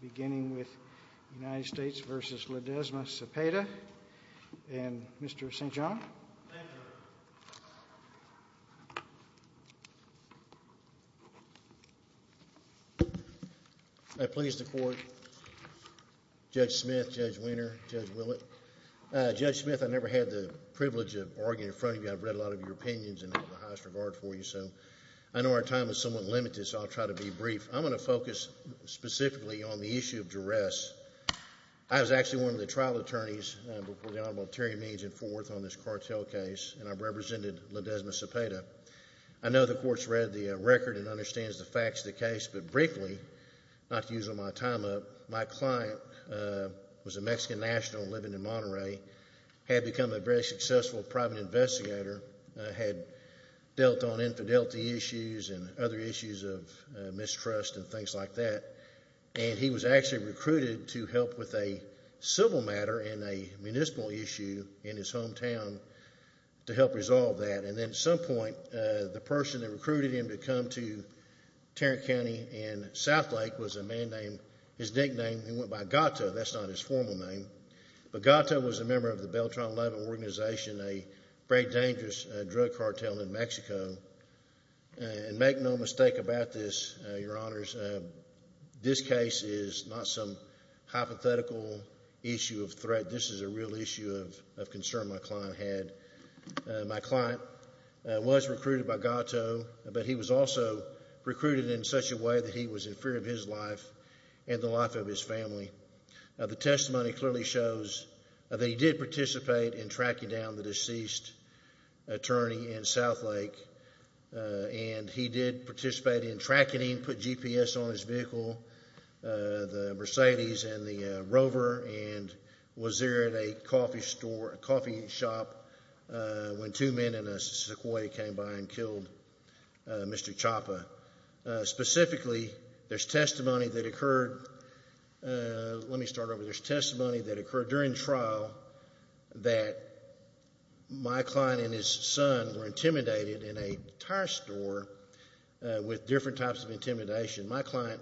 beginning with United States v. Ledezma-Cepeda and Mr. St. John. Thank you. I please the court, Judge Smith, Judge Wiener, Judge Willett. Judge Smith, I never had the privilege of arguing in front of you. I've read a lot of your opinions and have the highest regard for you, so I know our time is somewhat limited, so I'll try to be brief. I'm going to focus specifically on the issue of duress. I was actually one of the trial attorneys before the Honorable Terry Meads in Fort Worth on this cartel case, and I represented Ledezma-Cepeda. I know the court's read the record and understands the facts of the case, but briefly, not to use all my time up, my client was a Mexican national living in Monterey, had become a very successful private investigator, had dealt on drug busts and things like that, and he was actually recruited to help with a civil matter in a municipal issue in his hometown to help resolve that. And then at some point, the person that recruited him to come to Tarrant County in Southlake was a man named, his nickname, he went by Gato, that's not his formal name, but Gato was a member of the Beltron 11 organization, a very dangerous drug cartel in Mexico. And make no mistake about this, Your Honors, this case is not some hypothetical issue of threat. This is a real issue of concern my client had. My client was recruited by Gato, but he was also recruited in such a way that he was in fear of his life and the life of his family. The testimony clearly shows that he did participate in tracking down the and he did participate in tracking, put GPS on his vehicle, the Mercedes and the Rover, and was there at a coffee shop when two men in a Sequoia came by and killed Mr. Chapa. Specifically, there's testimony that occurred, let me start over, there's testimony that occurred during trial that my client and his son were in the entire store with different types of intimidation. My client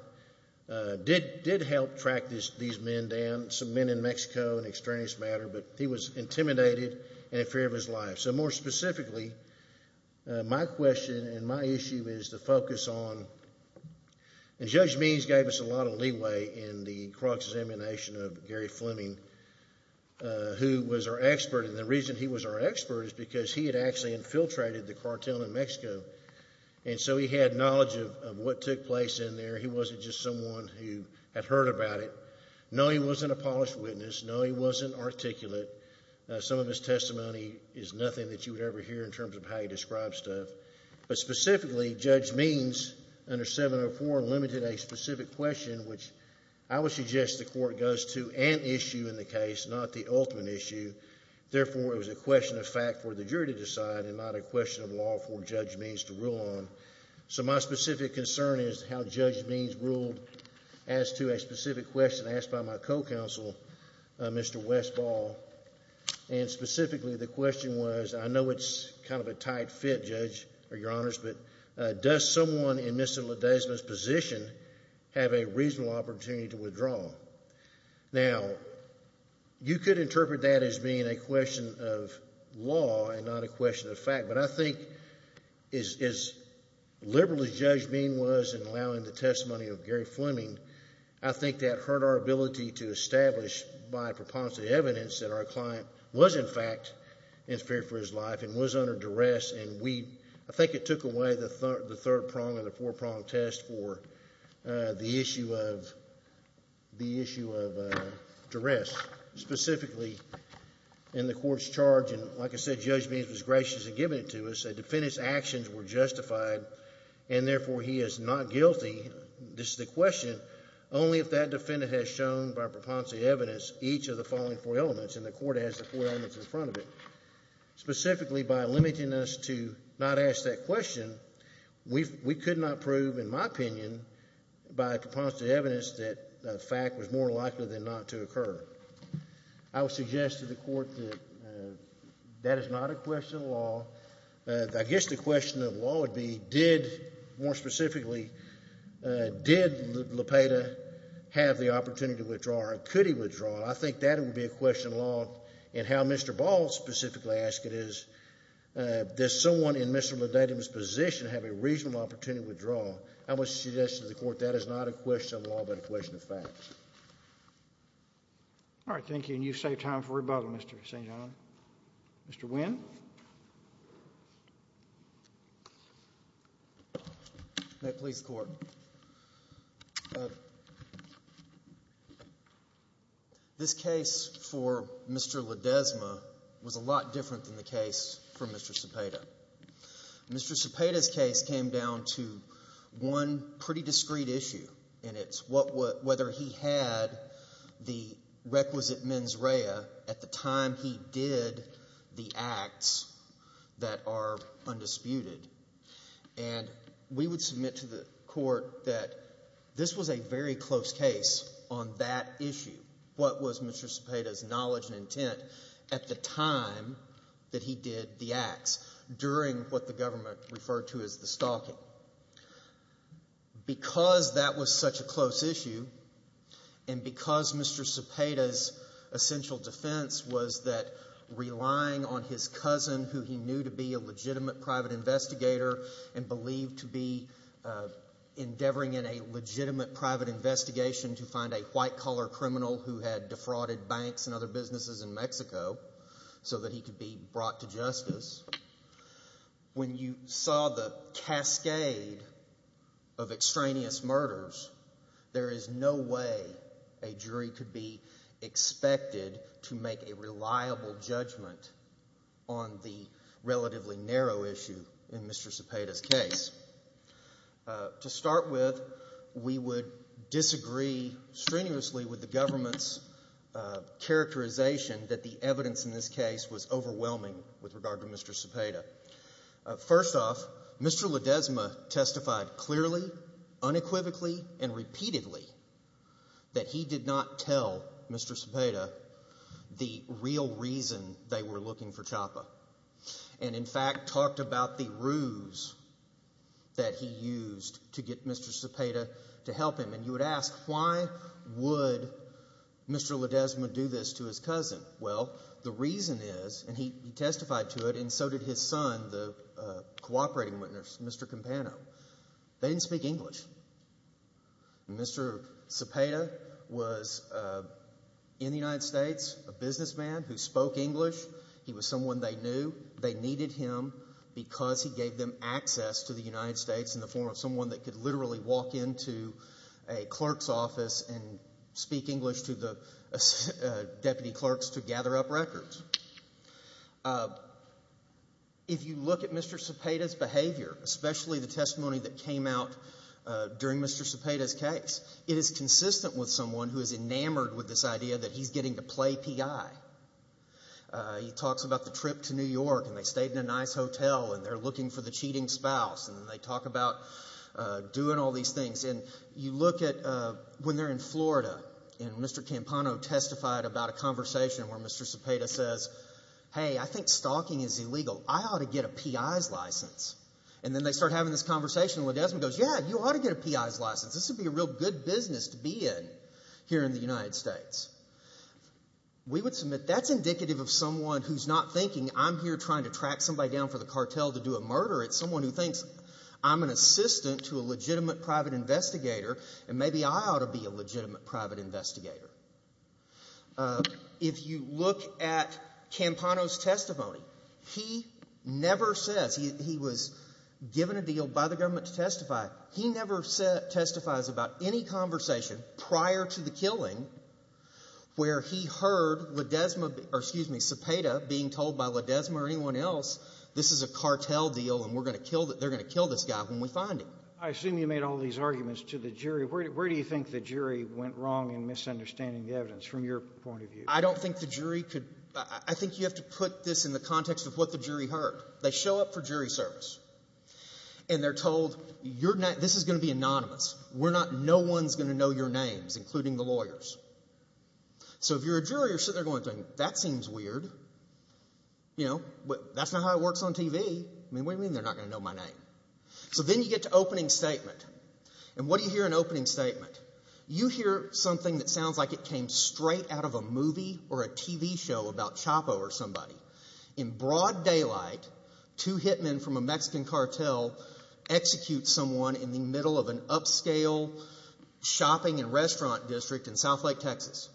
did help track these men down, some men in Mexico and extraneous matter, but he was intimidated and in fear of his life. So more specifically, my question and my issue is to focus on, and Judge Means gave us a lot of leeway in the cross-examination of Gary Fleming, who was our expert, and the reason he was our expert is because he had actually infiltrated the cartel in Mexico. And so he had knowledge of what took place in there. He wasn't just someone who had heard about it. No, he wasn't a polished witness. No, he wasn't articulate. Some of his testimony is nothing that you would ever hear in terms of how he describes stuff. But specifically, Judge Means, under 704, limited a specific question, which I would suggest the court goes to an issue in the case, not the ultimate issue. Therefore, it was a question of fact for the jury to decide and not a question of law for Judge Means to rule on. So my specific concern is how Judge Means ruled as to a specific question asked by my co-counsel, Mr. Westball. And specifically, the question was, I know it's kind of a tight fit, Judge, Your Honors, but does someone in Mr. Ledesma's position have a reasonable opportunity to withdraw? Now, you could interpret that as being a question of law and not a question of fact, but I think as liberal as Judge Means was in allowing the testimony of Gary Fleming, I think that hurt our ability to establish by a preponderance of the evidence that our client was, in fact, in spirit for his life and was under duress. I think it took away the third prong and the four-prong test for the issue of duress. Specifically, in the court's charge, and like I said, Judge Means was gracious in giving it to us, a defendant's actions were justified and therefore he is not guilty, this is the question, only if that defendant has shown by preponderance of the evidence each of the following four elements, and the court has the four elements in front of it. Specifically, by limiting us to not ask that question, we could not prove, in my opinion, by preponderance of the evidence, that the fact was more likely than not to occur. I would suggest to the court that that is not a question of law. I guess the question of law would be did, more specifically, did Lopeda have the opportunity to withdraw or could he withdraw? I think that would be a question of law, and how Mr. Ball specifically asked it is, does someone in Mr. Ledatum's position have a reasonable opportunity to withdraw? I would suggest to the court that is not a question of law but a question of facts. All right. Thank you, and you've saved time for rebuttal, Mr. St. John. Mr. Winn. May it please the Court. This case for Mr. Ledesma was a lot different than the case for Mr. Lopeda. Mr. Lopeda's case came down to one pretty discreet issue, and it's whether he had the requisite mens rea at the time he did the acts that are undisputed. And we would submit to the court that this was a very close case on that issue, what was Mr. Lopeda's knowledge and intent at the time that he did the acts during what the government referred to as the stalking. Because that was such a close issue and because Mr. Lopeda's essential defense was that relying on his cousin who he knew to be a legitimate private investigator and believed to be endeavoring in a legitimate private investigation to find a white-collar criminal who had defrauded banks and other businesses in Mexico so that he could be brought to justice, when you saw the cascade of extraneous murders, there is no way a jury could be expected to make a reliable judgment on the relatively narrow issue in Mr. Lopeda's case. To start with, we would disagree strenuously with the government's characterization that the evidence in this case was overwhelming with regard to Mr. Lopeda. First off, Mr. Ledesma testified clearly, unequivocally, and repeatedly that he did not tell Mr. Lopeda the real reason they were looking for Chapa and, in fact, talked about the ruse that he used to get Mr. Lopeda to help him. And you would ask, why would Mr. Ledesma do this to his cousin? Well, the reason is, and he testified to it and so did his son, the cooperating witness, Mr. Campano, they didn't speak English. Mr. Cepeda was in the United States, a businessman who spoke English. He was someone they knew. They needed him because he gave them access to the United States in the form of someone that could literally walk into a clerk's office and speak English to the deputy clerks to gather up records. If you look at Mr. Cepeda's behavior, especially the testimony that came out during Mr. Cepeda's case, it is consistent with someone who is enamored with this idea that he's getting to play P.I. He talks about the trip to New York and they stayed in a nice hotel and they're looking for the cheating spouse and they talk about doing all these things. And you look at when they're in Florida and Mr. Campano testified about a conversation where Mr. Cepeda says, hey, I think stalking is illegal. I ought to get a P.I.'s license. And then they start having this conversation and Ledesma goes, yeah, you ought to get a P.I.'s license. This would be a real good business to be in here in the United States. We would submit that's indicative of someone who's not thinking I'm here trying to track somebody down for the cartel to do a murder. It's someone who thinks I'm an assistant to a legitimate private investigator and maybe I ought to be a legitimate private investigator. If you look at Campano's testimony, he never says he was given a deal by the government to testify. He never testifies about any conversation prior to the killing where he heard Ledesma, or excuse me, Cepeda, being told by Ledesma or anyone else this is a cartel deal and they're going to kill this guy when we find him. I assume you made all these arguments to the jury. Where do you think the jury went wrong in misunderstanding the evidence from your point of view? I don't think the jury could – I think you have to put this in the context of what the jury heard. They show up for jury service and they're told this is going to be anonymous. No one's going to know your names, including the lawyers. So if you're a jury, you're sitting there going, that seems weird. That's not how it works on TV. What do you mean they're not going to know my name? So then you get to opening statement. And what do you hear in opening statement? You hear something that sounds like it came straight out of a movie or a TV show about Chapo or somebody. In broad daylight, two hitmen from a Mexican cartel execute someone in the middle of an upscale shopping and restaurant district in South Lake, Texas.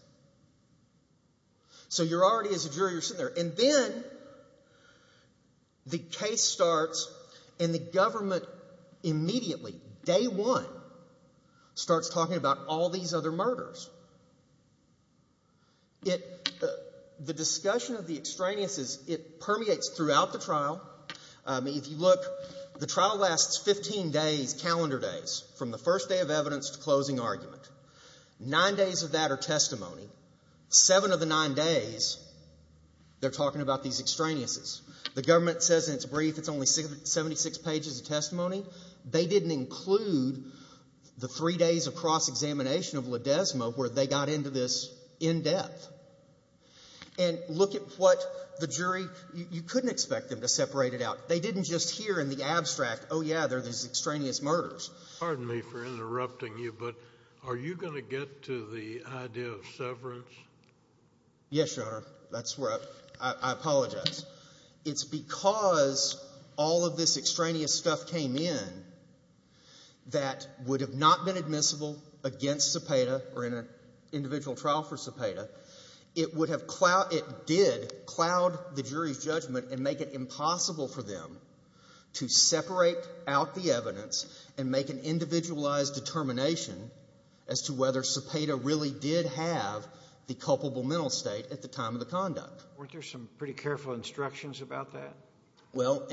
So you're already, as a jury, you're sitting there. And then the case starts and the government immediately, day one, starts talking about all these other murders. The discussion of the extraneous, it permeates throughout the trial. If you look, the trial lasts 15 days, calendar days, from the first day of evidence to closing argument. Nine days of that are testimony. Seven of the nine days, they're talking about these extraneous. The government says in its brief it's only 76 pages of testimony. They didn't include the three days of cross-examination of Ledesma where they got into this in depth. And look at what the jury, you couldn't expect them to separate it out. They didn't just hear in the abstract, oh, yeah, there are these extraneous murders. Pardon me for interrupting you, but are you going to get to the idea of severance? Yes, Your Honor. That's where I apologize. It's because all of this extraneous stuff came in that would have not been admissible against Cepeda or in an individual trial for Cepeda. It would have clouded, it did cloud the jury's judgment and make it impossible for them to separate out the evidence and make an individualized determination as to whether Cepeda really did have the culpable mental state at the time of the conduct. Weren't there some pretty careful instructions about that? Well,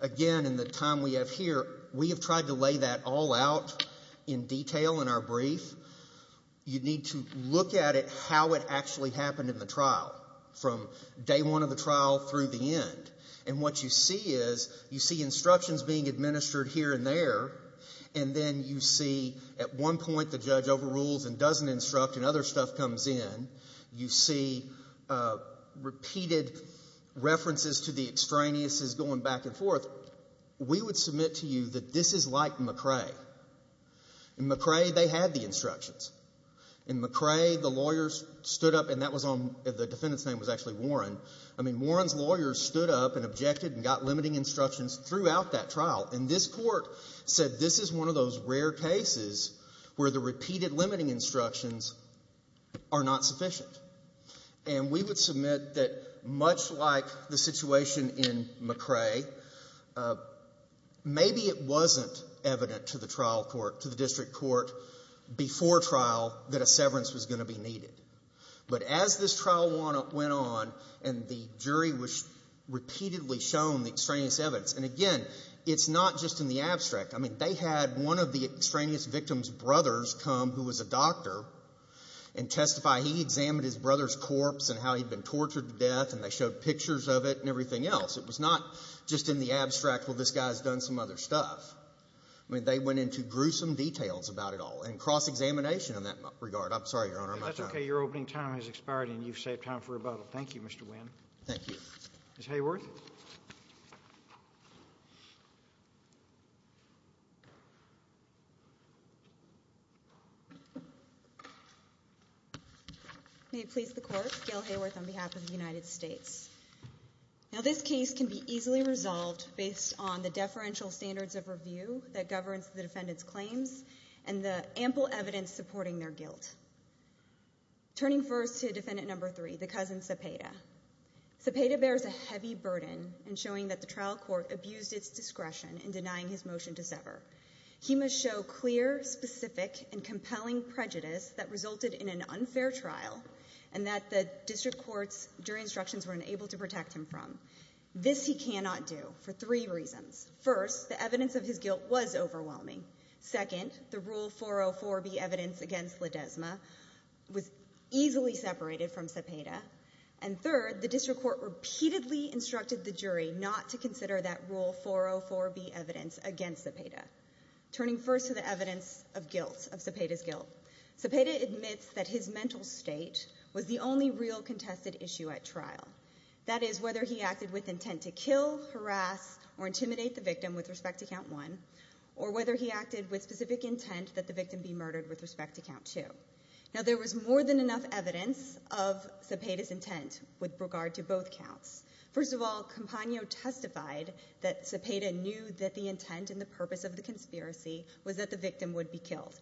again, in the time we have here, we have tried to lay that all out in detail in our brief. You need to look at it how it actually happened in the trial from day one of the trial through the end. And what you see is you see instructions being administered here and there, and then you see at one point the judge overrules and doesn't instruct and other stuff comes in. You see repeated references to the extraneous going back and forth. We would submit to you that this is like McRae. In McRae, they had the instructions. In McRae, the lawyers stood up, and that was on the defendant's name was actually Warren. I mean, Warren's lawyers stood up and objected and got limiting instructions throughout that trial. And this court said this is one of those rare cases where the repeated limiting instructions are not sufficient. And we would submit that much like the situation in McRae, maybe it wasn't evident to the trial court, to the district court before trial that a severance was going to be needed. But as this trial went on and the jury was repeatedly shown the extraneous evidence, and again, it's not just in the abstract. I mean, they had one of the extraneous victim's brothers come who was a doctor and testify. He examined his brother's corpse and how he'd been tortured to death, and they showed pictures of it and everything else. It was not just in the abstract, well, this guy's done some other stuff. I mean, they went into gruesome details about it all and cross-examination in that regard. I'm sorry, Your Honor. I'm out of time. That's okay. Your opening time has expired and you've saved time for rebuttal. Thank you, Mr. Winn. Thank you. Ms. Hayworth. May it please the Court, Gail Hayworth on behalf of the United States. Now, this case can be easily resolved based on the deferential standards of review that governs the defendant's claims and the ample evidence supporting their guilt. Turning first to defendant number three, the cousin Cepeda. Cepeda bears a heavy burden in showing that the trial court abused its discretion in denying his motion to sever. He must show clear, specific, and compelling prejudice that resulted in an unfair trial and that the district courts during instructions were unable to protect him from. This he cannot do for three reasons. First, the evidence of his guilt was overwhelming. Second, the Rule 404B evidence against Ledesma was easily separated from Cepeda. And third, the district court repeatedly instructed the jury not to consider that Rule 404B evidence against Cepeda. Turning first to the evidence of guilt, of Cepeda's guilt. Cepeda admits that his mental state was the only real contested issue at trial. That is whether he acted with intent to kill, harass, or intimidate the victim with respect to count one or whether he acted with specific intent that the victim be murdered with respect to count two. Now there was more than enough evidence of Cepeda's intent with regard to both counts. First of all, Campagno testified that Cepeda knew that the intent and the purpose of the conspiracy was that the victim would be killed.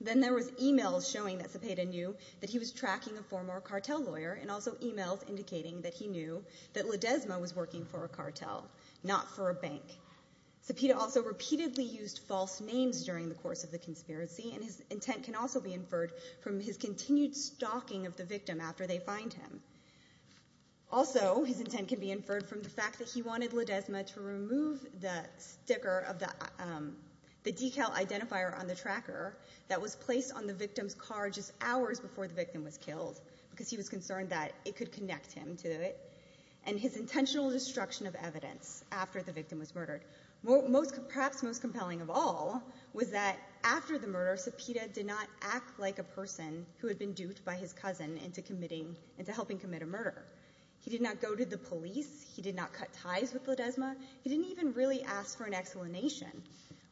Then there was e-mails showing that Cepeda knew that he was tracking a former cartel lawyer and also e-mails indicating that he knew that Ledesma was working for a cartel, not for a bank. Cepeda also repeatedly used false names during the course of the conspiracy and his intent can also be inferred from his continued stalking of the victim after they find him. Also, his intent can be inferred from the fact that he wanted Ledesma to remove the sticker of the decal identifier on the tracker that was placed on the victim's car just hours before the victim was killed because he was concerned that it could connect him to it and his intentional destruction of evidence after the victim was murdered. Perhaps most compelling of all was that after the murder, Cepeda did not act like a person who had been duped by his cousin into helping commit a murder. He did not go to the police. He did not cut ties with Ledesma. He didn't even really ask for an explanation.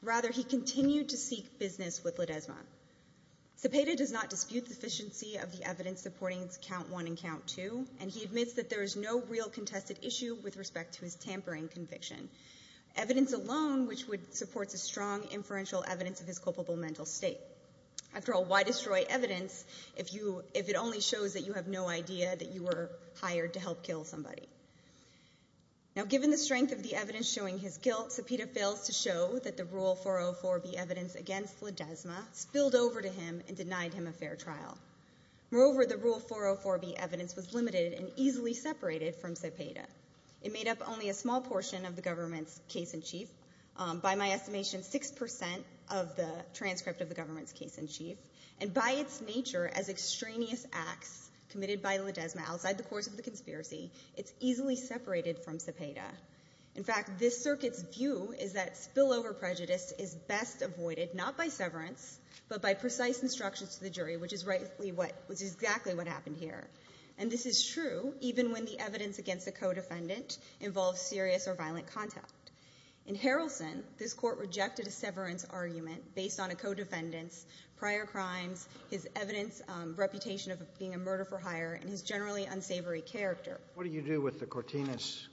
Rather, he continued to seek business with Ledesma. Cepeda does not dispute the deficiency of the evidence supporting count one and count two and he admits that there is no real contested issue with respect to his tampering conviction. Evidence alone which supports a strong inferential evidence of his culpable mental state. After all, why destroy evidence if it only shows that you have no idea that you were hired to help kill somebody? Now given the strength of the evidence showing his guilt, Cepeda fails to show that the Rule 404B evidence against Ledesma spilled over to him and denied him a fair trial. Moreover, the Rule 404B evidence was limited and easily separated from Cepeda. It made up only a small portion of the government's case-in-chief. By my estimation, six percent of the transcript of the government's case-in-chief. And by its nature, as extraneous acts committed by Ledesma outside the course of the conspiracy, it's easily separated from Cepeda. In fact, this circuit's view is that spillover prejudice is best avoided not by severance but by precise instructions to the jury, which is exactly what happened here. And this is true even when the evidence against the co-defendant involves serious or violent contact. In Harrelson, this Court rejected a severance argument based on a co-defendant's prior crimes, his evidence, reputation of being a murder-for-hire, and his generally unsavory character. What do you do with the Cortinas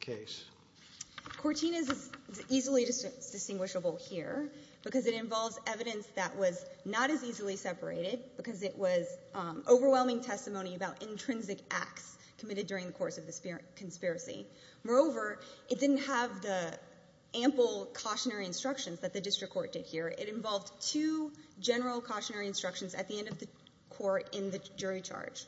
case? Cortinas is easily distinguishable here because it involves evidence that was not as easily separated because it was overwhelming testimony about intrinsic acts committed during the course of the conspiracy. Moreover, it didn't have the ample cautionary instructions that the district court did here. It involved two general cautionary instructions at the end of the court in the jury charge.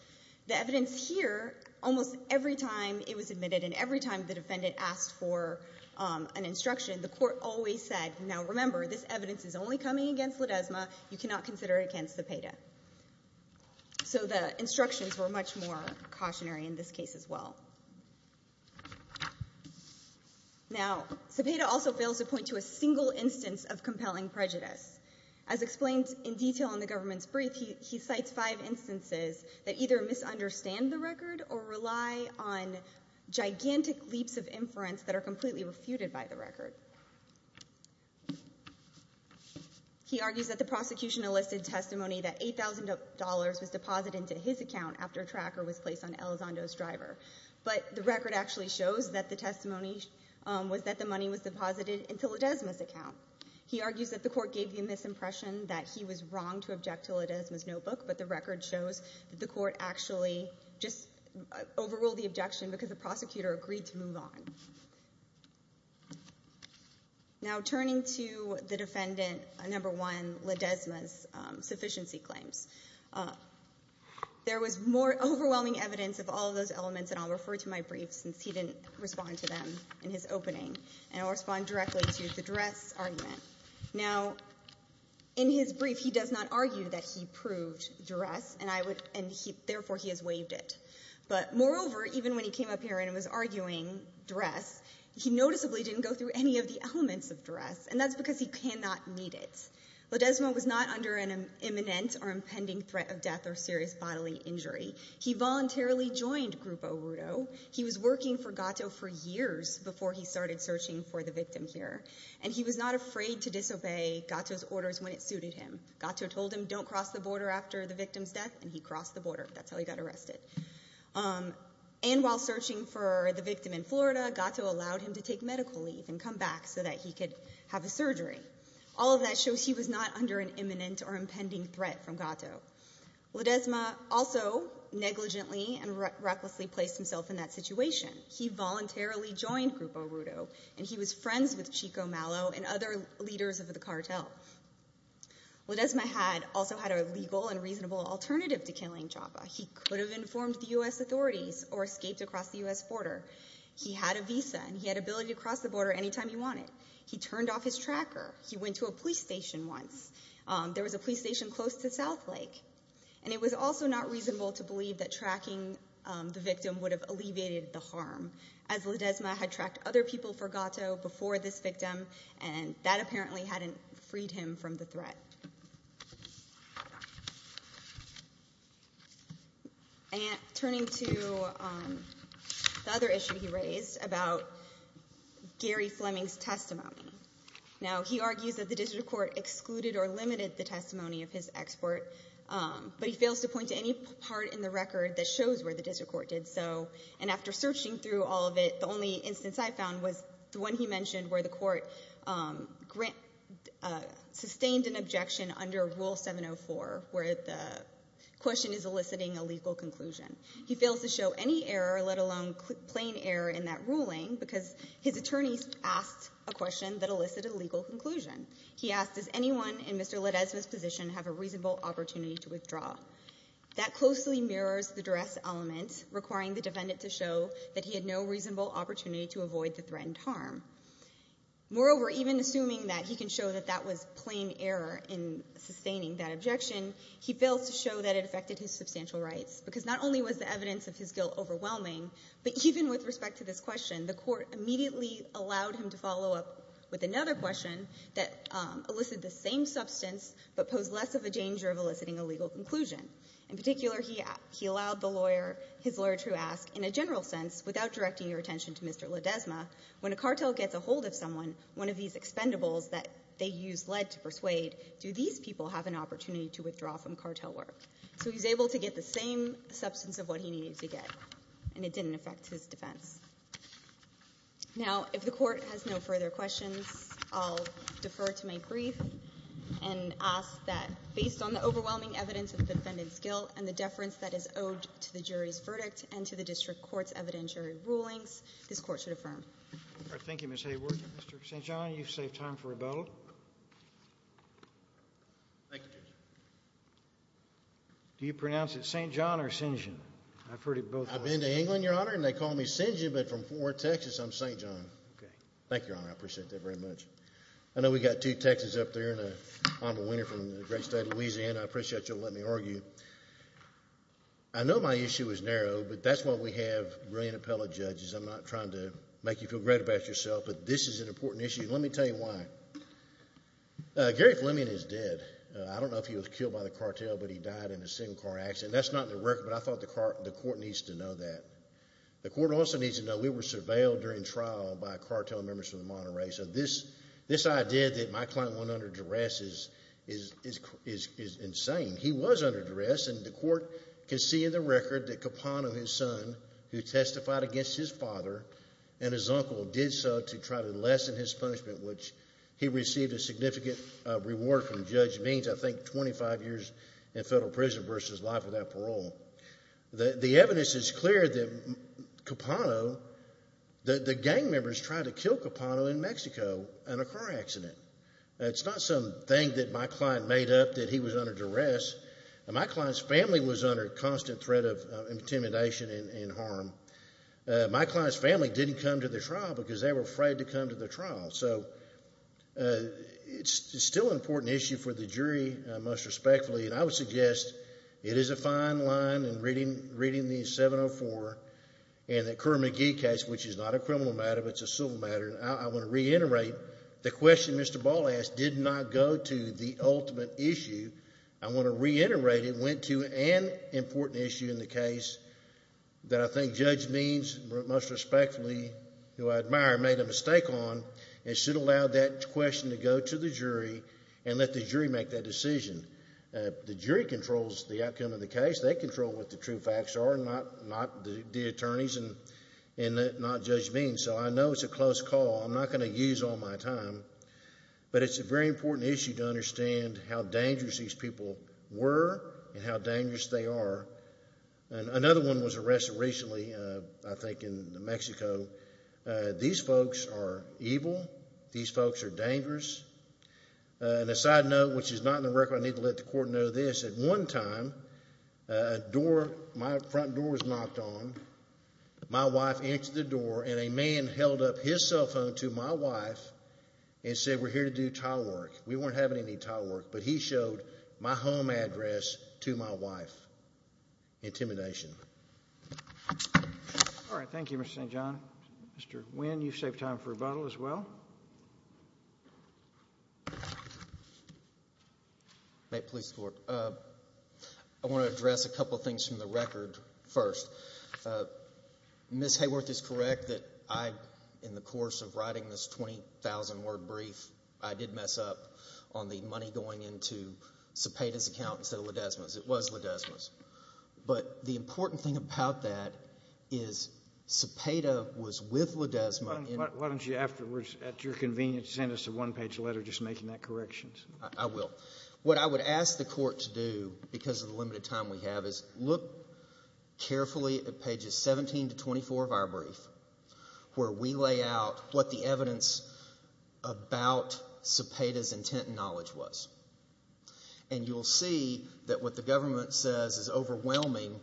The evidence here, almost every time it was admitted and every time the defendant asked for an instruction, the court always said, now remember, this evidence is only coming against Ledesma. You cannot consider it against Cepeda. So the instructions were much more cautionary in this case as well. Now, Cepeda also fails to point to a single instance of compelling prejudice. As explained in detail in the government's brief, he cites five instances that either misunderstand the record or rely on gigantic leaps of inference that are completely refuted by the record. He argues that the prosecution enlisted testimony that $8,000 was deposited into his account after a tracker was placed on Elizondo's driver. But the record actually shows that the testimony was that the money was deposited into Ledesma's account. He argues that the court gave the misimpression that he was wrong to object to Ledesma's notebook, but the record shows that the court actually just overruled the objection because the prosecutor agreed to move on. Now, turning to the defendant, number one, Ledesma's sufficiency claims. There was more overwhelming evidence of all of those elements, and I'll refer to my brief, since he didn't respond to them in his opening. And I'll respond directly to the duress argument. Now, in his brief, he does not argue that he proved duress, and therefore he has waived it. But moreover, even when he came up here and was arguing duress, he noticeably didn't go through any of the elements of duress, and that's because he cannot need it. Ledesma was not under an imminent or impending threat of death or serious bodily injury. He voluntarily joined Grupo Rudo. He was working for Gatto for years before he started searching for the victim here, and he was not afraid to disobey Gatto's orders when it suited him. Gatto told him don't cross the border after the victim's death, and he crossed the border. That's how he got arrested. And while searching for the victim in Florida, Gatto allowed him to take medical leave and come back so that he could have a surgery. All of that shows he was not under an imminent or impending threat from Gatto. Ledesma also negligently and recklessly placed himself in that situation. He voluntarily joined Grupo Rudo, and he was friends with Chico Malo and other leaders of the cartel. Ledesma also had a legal and reasonable alternative to killing Chapa. He could have informed the U.S. authorities or escaped across the U.S. border. He had a visa, and he had ability to cross the border anytime he wanted. He turned off his tracker. He went to a police station once. There was a police station close to South Lake. And it was also not reasonable to believe that tracking the victim would have alleviated the harm, as Ledesma had tracked other people for Gatto before this victim, and that apparently hadn't freed him from the threat. Turning to the other issue he raised about Gary Fleming's testimony. Now, he argues that the district court excluded or limited the testimony of his expert, but he fails to point to any part in the record that shows where the district court did so. And after searching through all of it, the only instance I found was the one he mentioned where the court sustained an objection under Rule 704, where the question is eliciting a legal conclusion. He fails to show any error, let alone plain error in that ruling, because his attorneys asked a question that elicited a legal conclusion. He asked, does anyone in Mr. Ledesma's position have a reasonable opportunity to withdraw? That closely mirrors the duress element, requiring the defendant to show that he had no reasonable opportunity to avoid the threatened harm. Moreover, even assuming that he can show that that was plain error in sustaining that objection, he fails to show that it affected his substantial rights, because not only was the evidence of his guilt overwhelming, but even with respect to this question, the court immediately allowed him to follow up with another question that elicited the same substance, but posed less of a danger of eliciting a legal conclusion. In particular, he allowed his lawyer to ask, in a general sense, without directing your attention to Mr. Ledesma, when a cartel gets a hold of someone, one of these expendables that they use lead to persuade, do these people have an opportunity to withdraw from cartel work? So he was able to get the same substance of what he needed to get. And it didn't affect his defense. Now, if the Court has no further questions, I'll defer to my brief and ask that, based on the overwhelming evidence of the defendant's guilt and the deference that is owed to the jury's verdict and to the district court's evidentiary rulings, this Court should affirm. All right. Thank you, Ms. Hayward. Mr. St. John, you've saved time for a vote. Thank you, Judge. Do you pronounce it St. John or St. John? I've heard it both ways. I've been to England, Your Honor, and they call me St. John, but from Fort Worth, Texas, I'm St. John. Thank you, Your Honor. I appreciate that very much. I know we've got two Texans up there and an honorable winner from the great state of Louisiana. I appreciate you letting me argue. I know my issue is narrow, but that's why we have brilliant appellate judges. I'm not trying to make you feel great about yourself, but this is an important issue. Let me tell you why. Gary Fleming is dead. I don't know if he was killed by the cartel, but he died in a single-car accident. That's not in the record, but I thought the court needs to know that. The court also needs to know we were surveilled during trial by cartel members from the Monterey. This idea that my client went under duress is insane. He was under duress, and the court can see in the record that Capone, his son, who testified against his father and his uncle did so to try to lessen his punishment, which he received a significant reward from Judge Means, I think 25 years in federal prison versus life without parole. The evidence is clear that the gang members tried to kill Capone in Mexico in a car accident. It's not some thing that my client made up that he was under duress. My client's family was under constant threat of intimidation and harm. My client's family didn't come to the trial because they were afraid to come to the trial. It's still an important issue for the jury, most respectfully, and I would suggest it is a fine line in reading the 704 and the Kerr-McGee case, which is not a criminal matter, but it's a civil matter. I want to reiterate the question Mr. Ball asked did not go to the ultimate issue. I want to reiterate it went to an important issue in the case that I think Judge Means, most respectfully, who I admire, made a mistake on and should allow that question to go to the jury and let the jury make that decision. The jury controls the outcome of the case. They control what the true facts are, not the attorneys and not Judge Means. So I know it's a close call. I'm not going to use all my time, but it's a very important issue to understand how dangerous these people were and how dangerous they are. Another one was arrested recently, I think in New Mexico. These folks are evil. These folks are dangerous. And a side note, which is not in the record, but I need to let the court know this. At one time, my front door was knocked on. My wife answered the door, and a man held up his cell phone to my wife and said, We're here to do tile work. We weren't having any tile work, but he showed my home address to my wife. Intimidation. All right. Thank you, Mr. St. John. Mr. Nguyen, you saved time for rebuttal as well. May it please the Court. I want to address a couple things from the record first. Ms. Hayworth is correct that I, in the course of writing this 20,000-word brief, I did mess up on the money going into Cepeda's account instead of Ledesma's. It was Ledesma's. But the important thing about that is Cepeda was with Ledesma. Why don't you afterwards, at your convenience, send us a one-page letter just making that correction? I will. What I would ask the Court to do, because of the limited time we have, is look carefully at pages 17 to 24 of our brief, where we lay out what the evidence about Cepeda's intent and knowledge was. And you'll see that what the government says is overwhelming.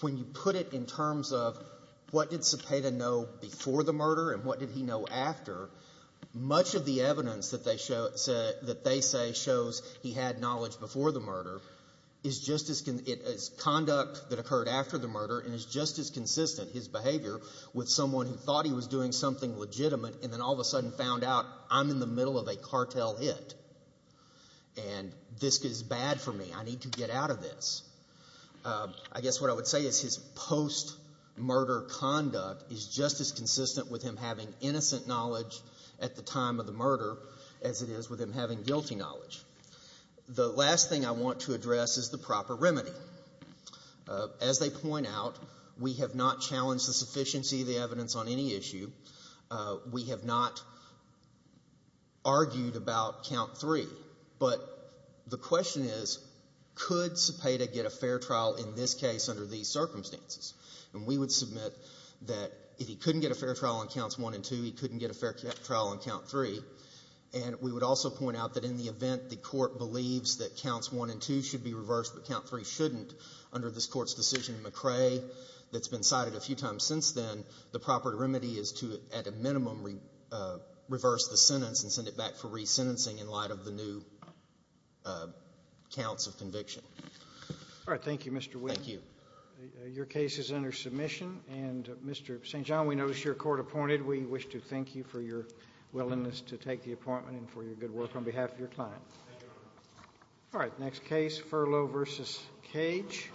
When you put it in terms of what did Cepeda know before the murder and what did he know after, much of the evidence that they say shows he had knowledge before the murder is conduct that occurred after the murder and is just as consistent, his behavior, with someone who thought he was doing something legitimate and then all of a sudden found out, I'm in the middle of a cartel hit. And this is bad for me. I need to get out of this. I guess what I would say is his post-murder conduct is just as consistent with him having innocent knowledge at the time of the murder as it is with him having guilty knowledge. The last thing I want to address is the proper remedy. As they point out, we have not challenged the sufficiency of the evidence on any issue. We have not argued about count three. But the question is, could Cepeda get a fair trial in this case under these circumstances? And we would submit that if he couldn't get a fair trial on counts one and two, he couldn't get a fair trial on count three. And we would also point out that in the event the Court believes that counts one and two should be reversed but count three shouldn't, under this Court's decision in McCrae that's been cited a few times since then, the proper remedy is to, at a minimum, reverse the sentence and send it back for resentencing in light of the new counts of conviction. All right. Thank you, Mr. Wheeler. Thank you. Your case is under submission. And, Mr. St. John, we notice you're court-appointed. We wish to thank you for your willingness to take the appointment and for your good work on behalf of your client. Thank you. All right. Next case, Furlow v. Cage.